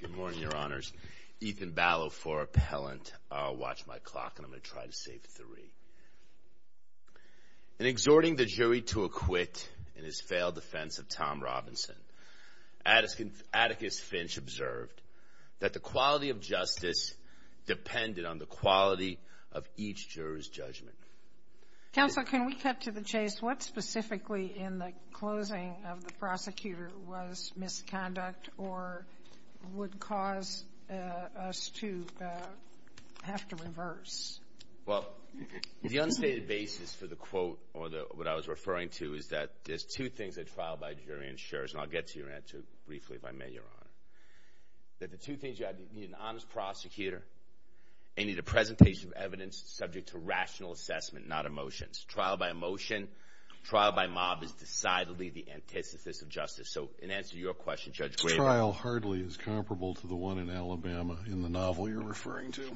Good morning, Your Honors. Ethan Ballot for Appellant. Watch my clock and I'm going to try to save three. In exhorting the jury to acquit in his failed defense of Tom Robinson, Atticus Finch observed that the quality of justice depended on the quality of each juror's judgment. Counsel, can we cut to the chase? What specifically in the closing of the prosecutor's hearing was misconduct or would cause us to have to reverse? Well, the unstated basis for the quote or what I was referring to is that there's two things that trial by jury ensures, and I'll get to your answer briefly if I may, Your Honor. That the two things you have to be an honest prosecutor and need a presentation of evidence subject to rational assessment, not emotions. Trial by emotion, trial by mob is decidedly the antithesis of emotion. So in answer to your question, Judge Graber. Trial hardly is comparable to the one in Alabama in the novel you're referring to.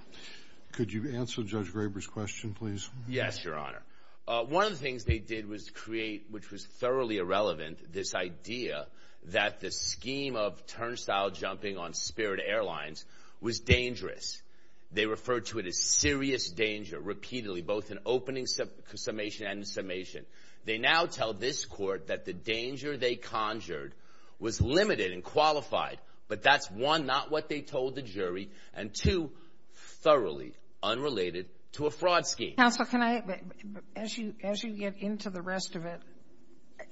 Could you answer Judge Graber's question, please? Yes, Your Honor. One of the things they did was create, which was thoroughly irrelevant, this idea that the scheme of turnstile jumping on Spirit Airlines was dangerous. They referred to it as serious danger repeatedly, both in opening summation and summation. They now tell this court that the danger they conjured was limited and qualified, but that's one, not what they told the jury, and two, thoroughly unrelated to a fraud scheme. Counsel, can I, as you get into the rest of it,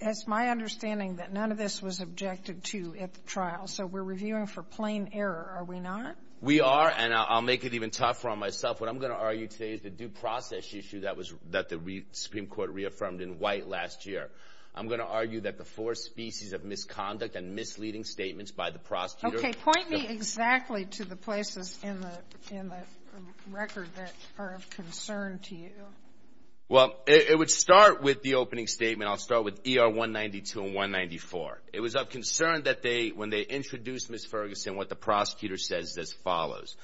it's my understanding that none of this was objected to at the trial, so we're reviewing for plain error, are we not? We are, and I'll make it even tougher on myself. What I'm going to argue today is the due process issue that the Supreme Court reaffirmed in White last year. I'm going to argue that the four species of misconduct and misleading statements by the prosecutor... Okay, point me exactly to the places in the record that are of concern to you. Well, it would start with the opening statement. I'll start with ER 192 and 194. It was of concern that when they introduced Ms. Ferguson, what the prosecutor says is as follows,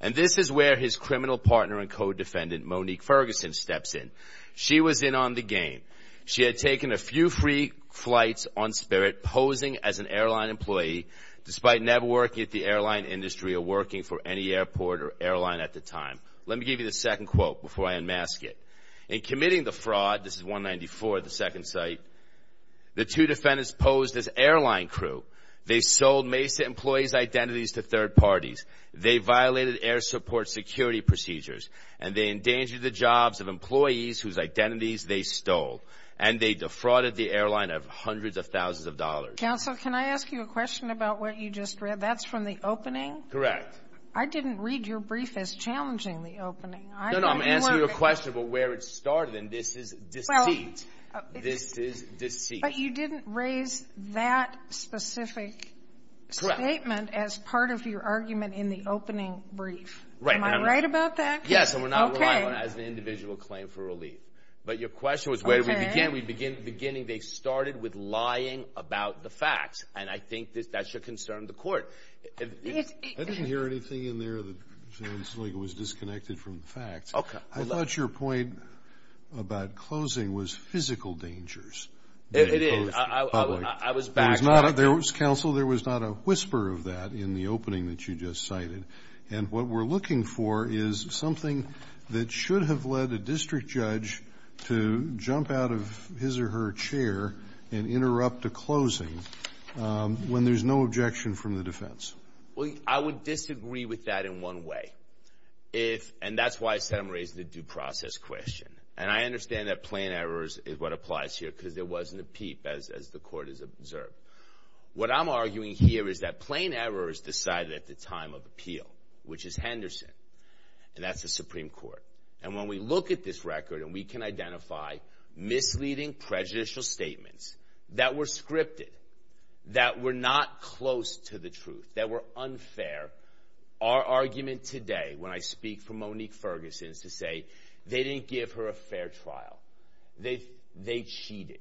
and this is where his criminal partner and co-defendant, Monique Ferguson, steps in. She was in on the game. She had taken a few free flights on spirit, posing as an airline employee, despite never working at the airline industry or working for any airport or airline at the time. Let me give you the second quote before I unmask it. In committing the fraud, this is 194, the second site, the two defendants posed as airline crew. They sold Mesa employees' identities to third parties. They violated air support security procedures, and they endangered the jobs of employees whose identities they stole, and they defrauded the airline of hundreds of thousands of dollars. Counsel, can I ask you a question about what you just read? That's from the opening? Correct. I didn't read your brief as challenging the opening. No, no, I'm asking you a question about where it started, and this is deceit. This is deceit. But you didn't raise that specific statement as part of your argument in the opening brief. Am I right about that? Yes, and we're not relying on it as an individual claim for relief. But your question was where did we begin? We began at the beginning. They started with lying about the facts, and I think that should concern the court. I didn't hear anything in there that sounds like it was disconnected from the facts. I thought your point about closing was physical dangers. It is. I was back. Counsel, there was not a whisper of that in the opening that you just cited, and what we're looking for is something that should have led a district judge to jump out of his or her chair and interrupt a closing when there's no objection from the defense. I would disagree with that in one way, and that's why I said I'm raising the due process question. And I understand that plain errors is what applies here, because there wasn't a peep, as the court has observed. What I'm arguing here is that plain error is decided at the time of appeal, which is Henderson, and that's the Supreme Court. And when we look at this record and we can identify misleading prejudicial statements that were scripted, that were not close to the truth, that were unfair, our to say they didn't give her a fair trial. They cheated.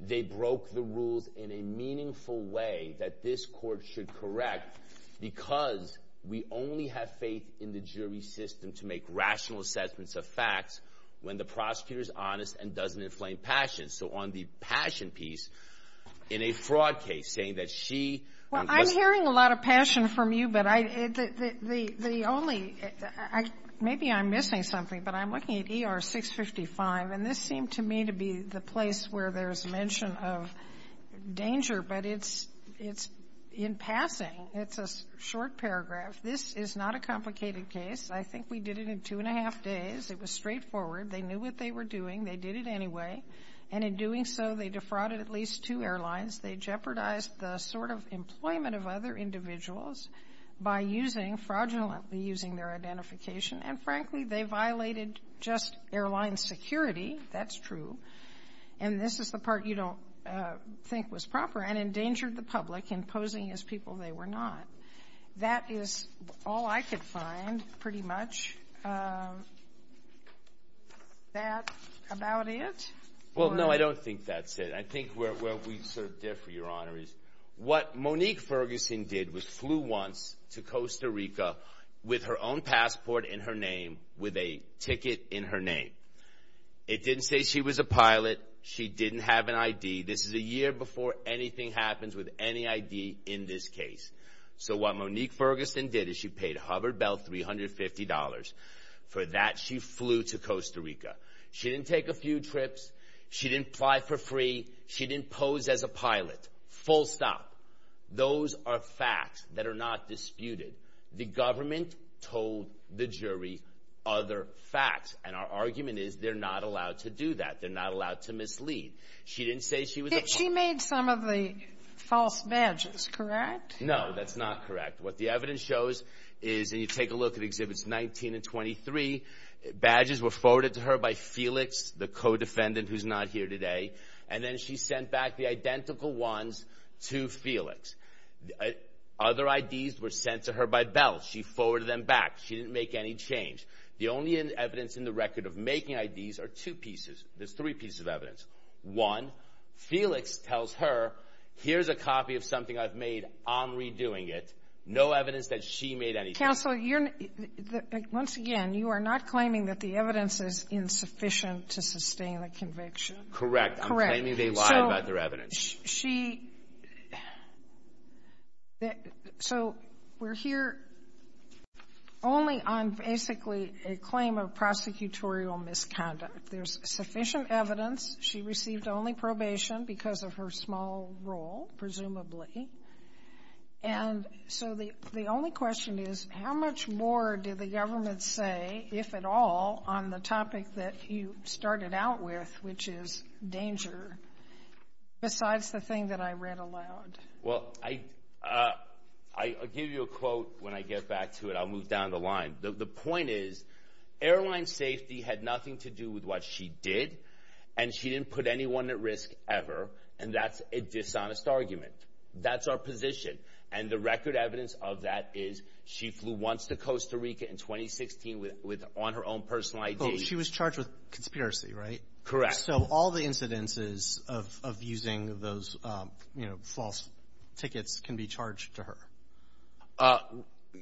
They broke the rules in a meaningful way that this court should correct, because we only have faith in the jury system to make rational assessments of facts when the prosecutor is honest and doesn't inflame passion. So on the passion piece, in a fraud case, saying that she... Well, I'm hearing a lot of passion from you, but the only – maybe I'm missing something, but I'm looking at ER 655, and this seemed to me to be the place where there's mention of danger, but it's in passing. It's a short paragraph. This is not a complicated case. I think we did it in two and a half days. It was straightforward. They knew what they were doing. They did it anyway. And in doing so, they defrauded at least two airlines. They jeopardized the sort of employment of other individuals by using – fraudulently using their identification. And frankly, they violated just airline security. That's true. And this is the part you don't think was proper, and endangered the public in posing as people they were not. That is all I could find, pretty much. Is that about it? Well, no, I don't think that's it. I think where we sort of differ, Your Honor, is what Monique Ferguson did was flew once to Costa Rica with her own passport in her name, with a ticket in her name. It didn't say she was a pilot. She didn't have an ID. This is a year before anything happens with any ID in this case. So what Monique Ferguson did is she paid Hubbard Bell $350. For that, she flew to Costa Rica. She didn't take a few trips. She didn't fly for free. She didn't pose as a pilot. Full stop. Those are facts that are not disputed. The government told the jury other facts. And our argument is they're not allowed to do that. They're not allowed to mislead. She didn't say she was – She made some of the false badges, correct? No, that's not correct. What the evidence shows is – and you take a look at by Felix, the co-defendant who's not here today. And then she sent back the identical ones to Felix. Other IDs were sent to her by Bell. She forwarded them back. She didn't make any change. The only evidence in the record of making IDs are two pieces. There's three pieces of evidence. One, Felix tells her, here's a copy of something I've made. I'm redoing it. No evidence that she made anything. Counsel, once again, you are not claiming that the evidence is insufficient to sustain the conviction? Correct. I'm claiming they lied about their evidence. So we're here only on basically a claim of prosecutorial misconduct. There's sufficient evidence. She received only probation because of her small role, presumably. And so the only question is, how much more did the government say, if at all, on the topic that you started out with, which is danger, besides the thing that I read aloud? Well, I'll give you a quote when I get back to it. I'll move down the line. The point is, airline safety had nothing to do with what she did, and she didn't put anyone at risk ever, and that's a dishonest argument. That's our position. And the record evidence of that is she flew once to Costa Rica in 2016 on her own personal ID. She was charged with conspiracy, right? Correct. So all the incidences of using those false tickets can be charged to her?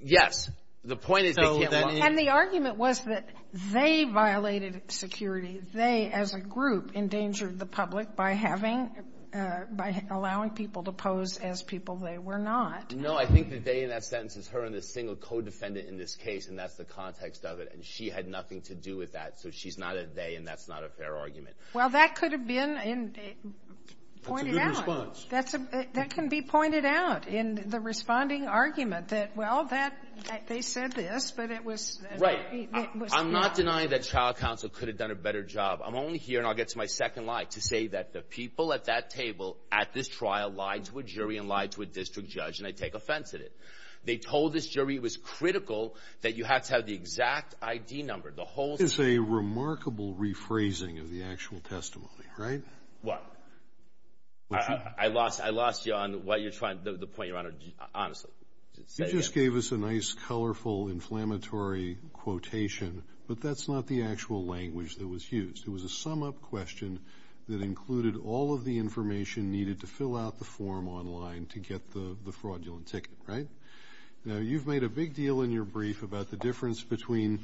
Yes. The point is they can't lie. And the argument was that they violated security. They, as a group, endangered the public by having – by allowing people to pose as people they were not. No. I think the they in that sentence is her and the single codefendant in this case, and that's the context of it. And she had nothing to do with that. So she's not a they, and that's not a fair argument. Well, that could have been pointed out. That's a good response. That can be pointed out in the responding argument that, well, that – they said this, but it was – Right. I'm not denying that trial counsel could have done a better job. I'm only here, and I'll get to my second lie, to say that the people at that table at this trial lied to a jury and lied to a district judge, and they take offense at it. They told this jury it was critical that you have to have the exact ID number. The whole thing. This is a remarkable rephrasing of the actual testimony, right? What? I lost you on what you're trying – the point, Your Honor, honestly. You just gave us a nice, colorful, inflammatory quotation, but that's not the actual language that was used. It was a sum-up question that included all of the information needed to fill out the form online to get the fraudulent ticket, right? Now, you've made a big deal in your brief about the difference between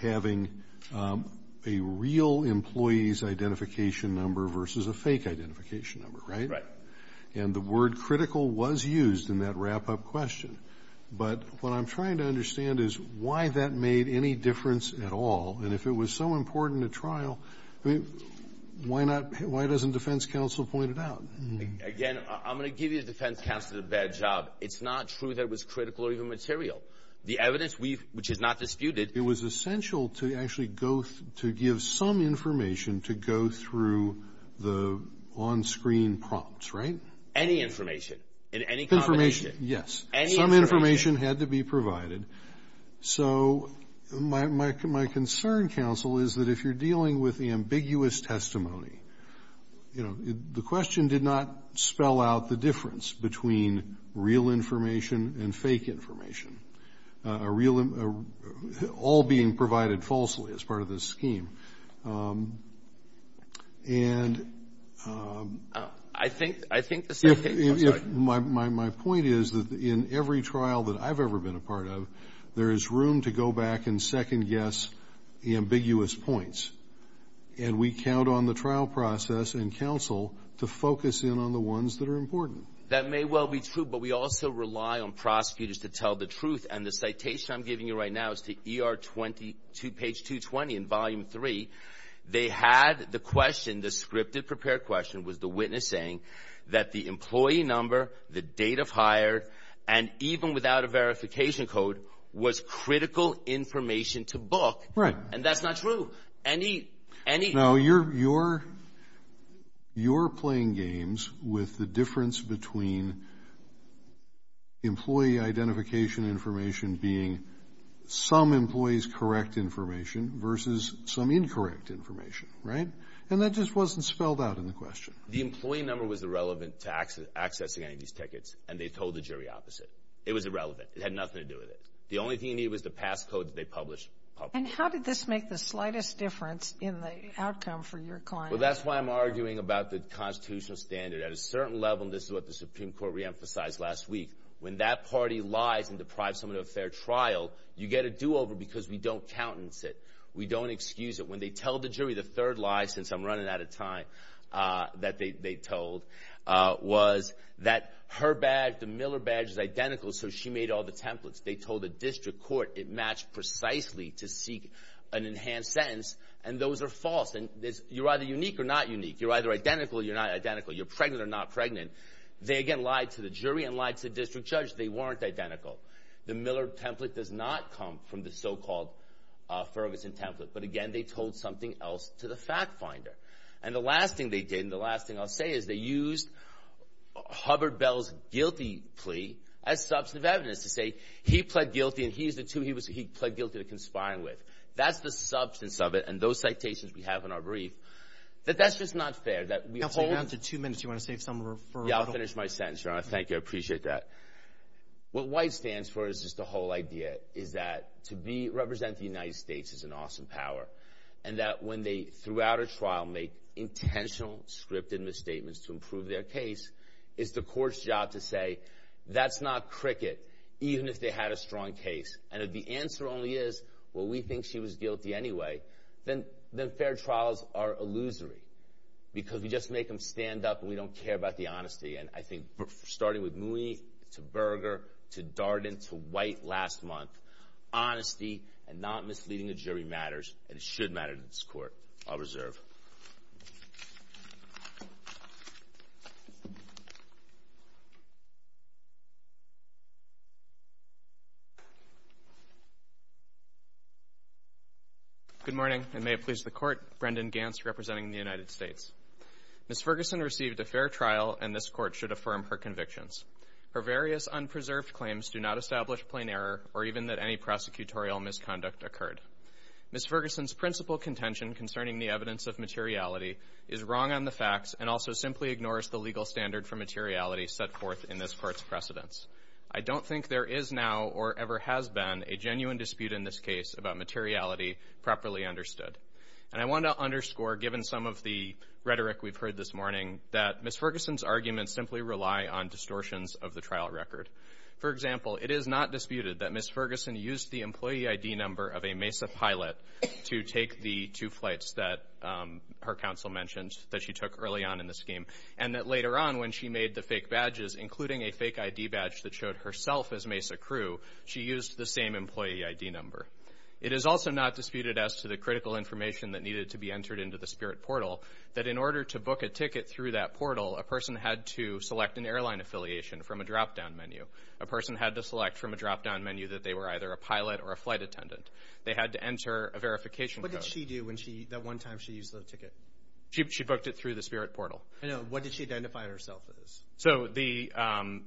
having a real employee's identification number versus a fake identification number, right? Right. And the word critical was used in that wrap-up question. But what I'm trying to understand is why that made any difference at all. And if it was so important at trial, why doesn't defense counsel point it out? Again, I'm going to give you the defense counsel the bad job. It's not true that it was critical or even material. The evidence, which is not disputed – It was essential to actually go – to give some information to go through the on-screen prompts, right? Any information in any combination. Information, yes. Any information. Some information had to be provided. So my concern, counsel, is that if you're dealing with the ambiguous testimony, the question did not spell out the difference between real information and fake My point is that in every trial that I've ever been a part of, there is room to go back and second-guess the ambiguous points. And we count on the trial process and counsel to focus in on the ones that are important. That may well be true, but we also rely on prosecutors to tell the truth. And the citation I'm giving you right now is to ER 22, page 220 in volume 3. They had the question, the scripted prepared question, was the witness saying that the employee number, the date of hire, and even without a verification code was critical information to book. Right. And that's not true. Any – any – No, you're – you're playing games with the difference between employee identification information being some employee's correct information versus some incorrect information. Right? And that just wasn't spelled out in the question. The employee number was irrelevant to accessing any of these tickets, and they told the jury opposite. It was irrelevant. It had nothing to do with it. The only thing you need was the pass code that they published publicly. And how did this make the slightest difference in the outcome for your client? Well, that's why I'm arguing about the constitutional standard. At a certain level, and this is what the Supreme Court reemphasized last week, when that party lies and deprives someone of a fair trial, you get a do-over because we don't countenance it. We don't excuse it. When they tell the jury the third lie, since I'm running out of time, that they told was that her badge, the Miller badge, is identical, so she made all the templates. They told the district court it matched precisely to seek an enhanced sentence, and those are false. And you're either unique or not unique. You're either identical or you're not identical. You're pregnant or not pregnant. They, again, lied to the jury and lied to the district judge. They weren't identical. The Miller template does not come from the so-called Ferguson template. But, again, they told something else to the fact finder. And the last thing they did, and the last thing I'll say, is they used Hubbard-Bell's guilty plea as substantive evidence to say he pled guilty and he's the two he pled guilty to conspiring with. That's the substance of it, and those citations we have in our brief. But that's just not fair. You're down to two minutes. Do you want to say something? Yeah, I'll finish my sentence, Your Honor. Thank you. I appreciate that. What White stands for is just the whole idea, is that to represent the United States is an awesome power, and that when they, throughout a trial, make intentional scripted misstatements to improve their case, it's the court's job to say, that's not cricket, even if they had a strong case. And if the answer only is, well, we think she was guilty anyway, then fair trials are illusory, because we just make them stand up and we don't care about the honesty. And I think starting with Mooney to Berger to Darden to White last month, honesty and not misleading the jury matters, and it should matter to this court. I'll reserve. Good morning, and may it please the Court. Brendan Gantz representing the United States. Ms. Ferguson received a fair trial, and this court should affirm her convictions. Her various unpreserved claims do not establish plain error, or even that any prosecutorial misconduct occurred. Ms. Ferguson's principal contention concerning the evidence of materiality is wrong on the facts and also simply ignores the legal standard for materiality set forth in this court's precedents. I don't think there is now or ever has been a genuine dispute in this case about materiality properly understood. And I want to underscore, given some of the rhetoric we've heard this morning, that Ms. Ferguson's arguments simply rely on distortions of the trial record. For example, it is not disputed that Ms. Ferguson used the employee ID number of a MESA pilot to take the two flights that her counsel mentioned that she took early on in the scheme, and that later on when she made the fake badges, including a fake ID badge that showed herself as MESA crew, she used the same employee ID number. It is also not disputed as to the critical information that needed to be entered into the SPIRT portal that in order to book a ticket through that portal, a person had to select an airline affiliation from a drop-down menu. A person had to select from a drop-down menu that they were either a pilot or a flight attendant. They had to enter a verification code. What did she do that one time she used the ticket? She booked it through the SPIRT portal. What did she identify herself as?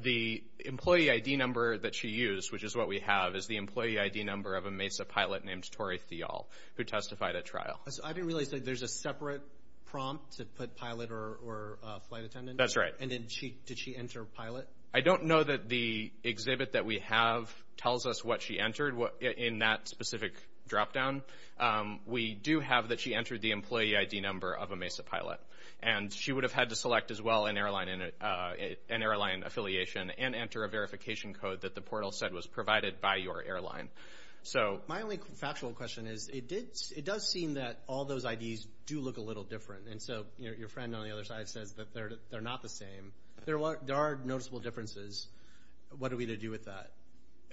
The employee ID number that she used, which is what we have, is the employee ID number of a MESA pilot named Tori Thial, who testified at trial. I didn't realize that there's a separate prompt to put pilot or flight attendant. That's right. Did she enter pilot? I don't know that the exhibit that we have tells us what she entered in that specific drop-down. We do have that she entered the employee ID number of a MESA pilot. And she would have had to select as well an airline affiliation and enter a verification code that the portal said was provided by your airline. My only factual question is it does seem that all those IDs do look a little different. And so your friend on the other side says that they're not the same. There are noticeable differences. What are we to do with that?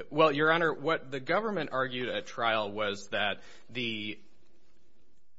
Well, Your Honor, what the government argued at trial was that the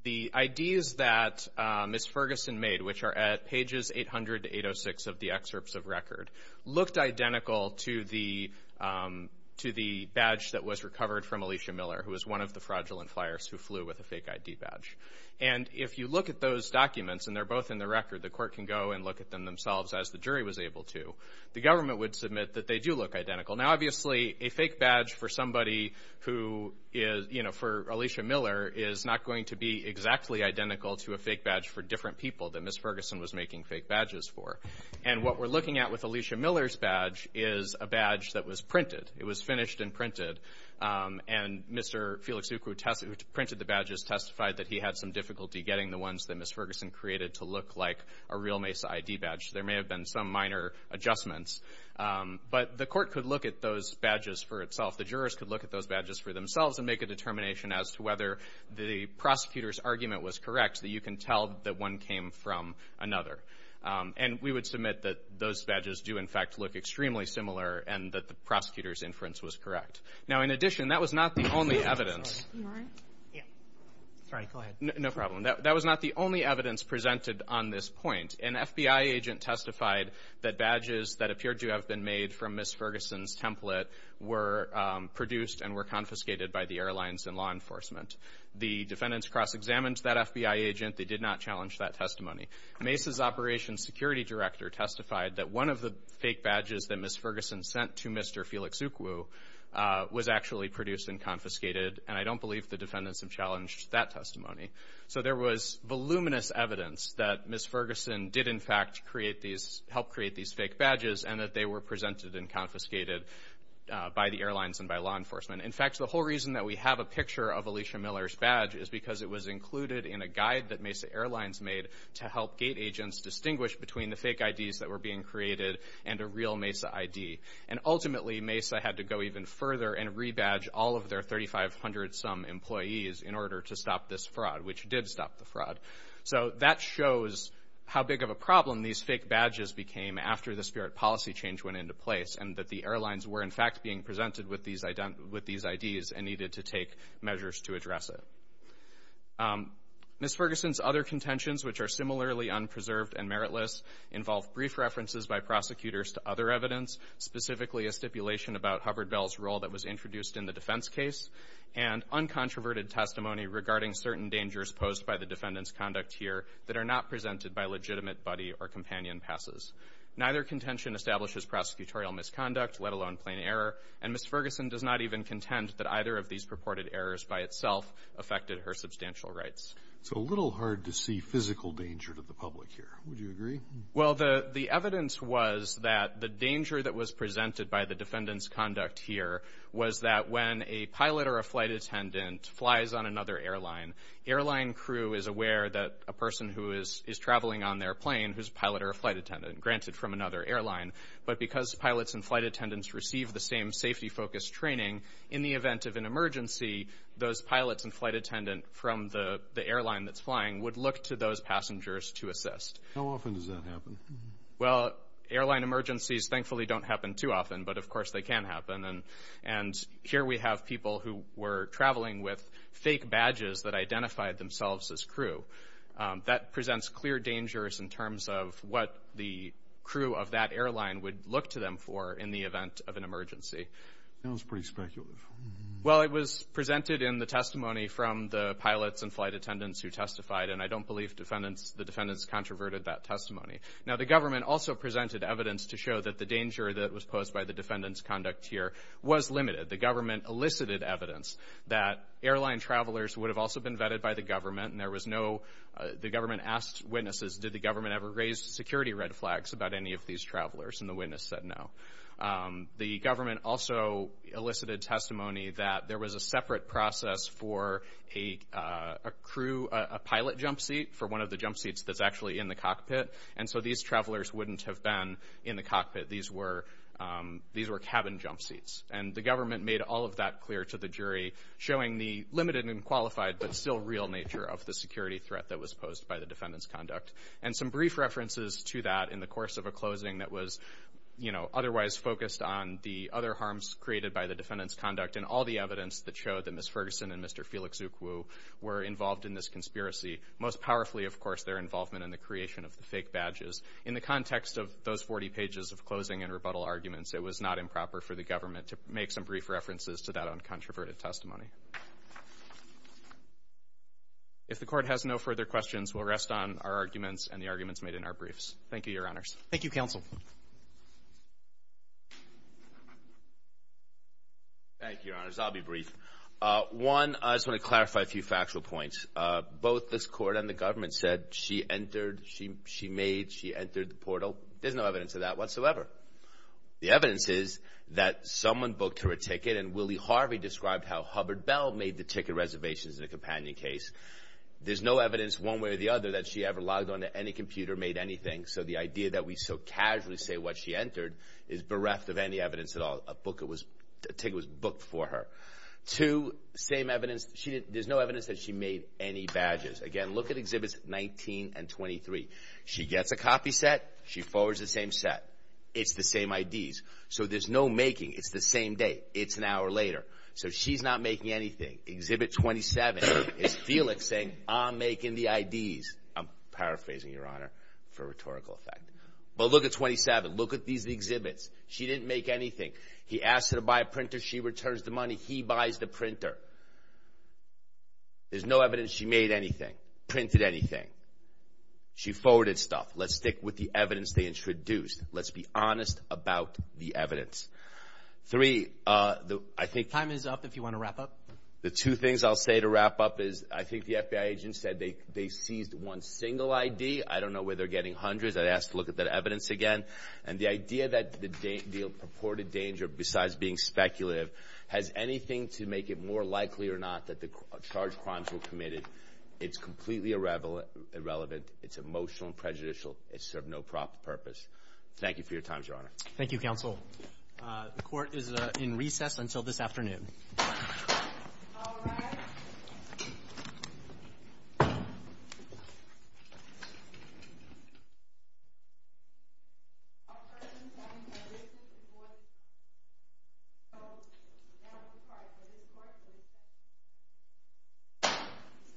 IDs that Ms. Ferguson made, which are at pages 800 to 806 of the excerpts of record, looked identical to the badge that was recovered from Alicia Miller, who was one of the fraudulent flyers who flew with a fake ID badge. And if you look at those documents, and they're both in the record, the court can go and look at them themselves, as the jury was able to. The government would submit that they do look identical. Now, obviously, a fake badge for somebody who is, you know, for Alicia Miller is not going to be exactly identical to a fake badge for different people that Ms. Ferguson was making fake badges for. And what we're looking at with Alicia Miller's badge is a badge that was printed. It was finished and printed. And Mr. Felix Ukwu, who printed the badges, testified that he had some difficulty getting the ones that Ms. Ferguson created to look like a real MESA ID badge. There may have been some minor adjustments. But the court could look at those badges for itself. The jurors could look at those badges for themselves and make a determination as to whether the prosecutor's argument was correct that you can tell that one came from another. And we would submit that those badges do, in fact, look extremely similar and that the prosecutor's inference was correct. Now, in addition, that was not the only evidence. No problem. That was not the only evidence presented on this point. An FBI agent testified that badges that appeared to have been made from Ms. Ferguson's template were produced and were confiscated by the airlines and law enforcement. The defendants cross-examined that FBI agent. They did not challenge that testimony. MESA's operations security director testified that one of the fake badges that Ms. Ferguson sent to Mr. Felix Ukwu was actually produced and confiscated, and I don't believe the defendants have challenged that testimony. So there was voluminous evidence that Ms. Ferguson did, in fact, help create these fake badges and that they were presented and confiscated by the airlines and by law enforcement. In fact, the whole reason that we have a picture of Alicia Miller's badge is because it was included in a guide that MESA Airlines made to help gate agents distinguish between the fake IDs that were being created and a real MESA ID. And ultimately, MESA had to go even further and rebadge all of their 3,500-some employees in order to stop this fraud, which did stop the fraud. So that shows how big of a problem these fake badges became after the spirit policy change went into place and that the airlines were, in fact, being presented with these IDs and needed to take measures to address it. Ms. Ferguson's other contentions, which are similarly unpreserved and meritless, involve brief references by prosecutors to other evidence, specifically a stipulation about Hubbard Bell's role that was introduced in the defense case, and uncontroverted testimony regarding certain dangers posed by the defendant's conduct here that are not presented by legitimate buddy or companion passes. Neither contention establishes prosecutorial misconduct, let alone plain error, and Ms. Ferguson does not even contend that either of these purported errors by itself affected her substantial rights. It's a little hard to see physical danger to the public here. Would you agree? Well, the evidence was that the danger that was presented by the defendant's conduct here was that when a pilot or a flight attendant flies on another airline, airline crew is aware that a person who is traveling on their plane who's a pilot or a flight attendant, granted, from another airline, but because pilots and flight attendants receive the same safety-focused training, in the event of an emergency, those pilots and flight attendants from the airline that's flying would look to those passengers to assist. How often does that happen? Well, airline emergencies thankfully don't happen too often, but of course they can happen, and here we have people who were traveling with fake badges that identified themselves as crew. That presents clear dangers in terms of what the crew of that airline would look to them for in the event of an emergency. That sounds pretty speculative. Well, it was presented in the testimony from the pilots and flight attendants who testified, and I don't believe the defendants controverted that testimony. Now, the government also presented evidence to show that the danger that was posed by the defendant's conduct here was limited. The government elicited evidence that airline travelers would have also been vetted by the government, and the government asked witnesses, did the government ever raise security red flags about any of these travelers, and the witness said no. The government also elicited testimony that there was a separate process for a pilot jump seat for one of the jump seats that's actually in the cockpit, and so these travelers wouldn't have been in the cockpit. These were cabin jump seats, and the government made all of that clear to the jury, showing the limited and qualified but still real nature of the security threat that was posed by the defendant's conduct, and some brief references to that in the course of a closing that was otherwise focused on the other harms created by the defendant's conduct and all the evidence that showed that Ms. Ferguson and Mr. Felix Ukwu were involved in this conspiracy, most powerfully, of course, their involvement in the creation of the fake badges. In the context of those 40 pages of closing and rebuttal arguments, it was not improper for the government to make some brief references to that uncontroverted testimony. If the Court has no further questions, we'll rest on our arguments and the arguments made in our briefs. Thank you, Your Honors. Thank you, Counsel. Thank you, Your Honors. I'll be brief. One, I just want to clarify a few factual points. Both this Court and the government said she entered, she made, she entered the portal. There's no evidence of that whatsoever. The evidence is that someone booked her a ticket, and Willie Harvey described how Hubbard Bell made the ticket reservations in a companion case. There's no evidence one way or the other that she ever logged on to any computer, made anything, so the idea that we so casually say what she entered is bereft of any evidence at all. A ticket was booked for her. Two, same evidence. There's no evidence that she made any badges. Again, look at Exhibits 19 and 23. She gets a copy set. She forwards the same set. It's the same IDs. So there's no making. It's the same date. It's an hour later. So she's not making anything. Exhibit 27 is Felix saying, I'm making the IDs. I'm paraphrasing, Your Honor, for rhetorical effect. But look at 27. Look at these exhibits. She didn't make anything. He asked her to buy a printer. She returns the money. He buys the printer. There's no evidence she made anything, printed anything. She forwarded stuff. Let's stick with the evidence they introduced. Let's be honest about the evidence. Three, I think the time is up if you want to wrap up. The two things I'll say to wrap up is I think the FBI agent said they seized one single ID. I don't know where they're getting hundreds. I'd ask to look at that evidence again. And the idea that the purported danger, besides being speculative, has anything to make it more likely or not that the charged crimes were committed, it's completely irrelevant. It's emotional and prejudicial. It serves no purpose. Thank you for your time, Your Honor. Thank you, Counsel. The court is in recess until this afternoon.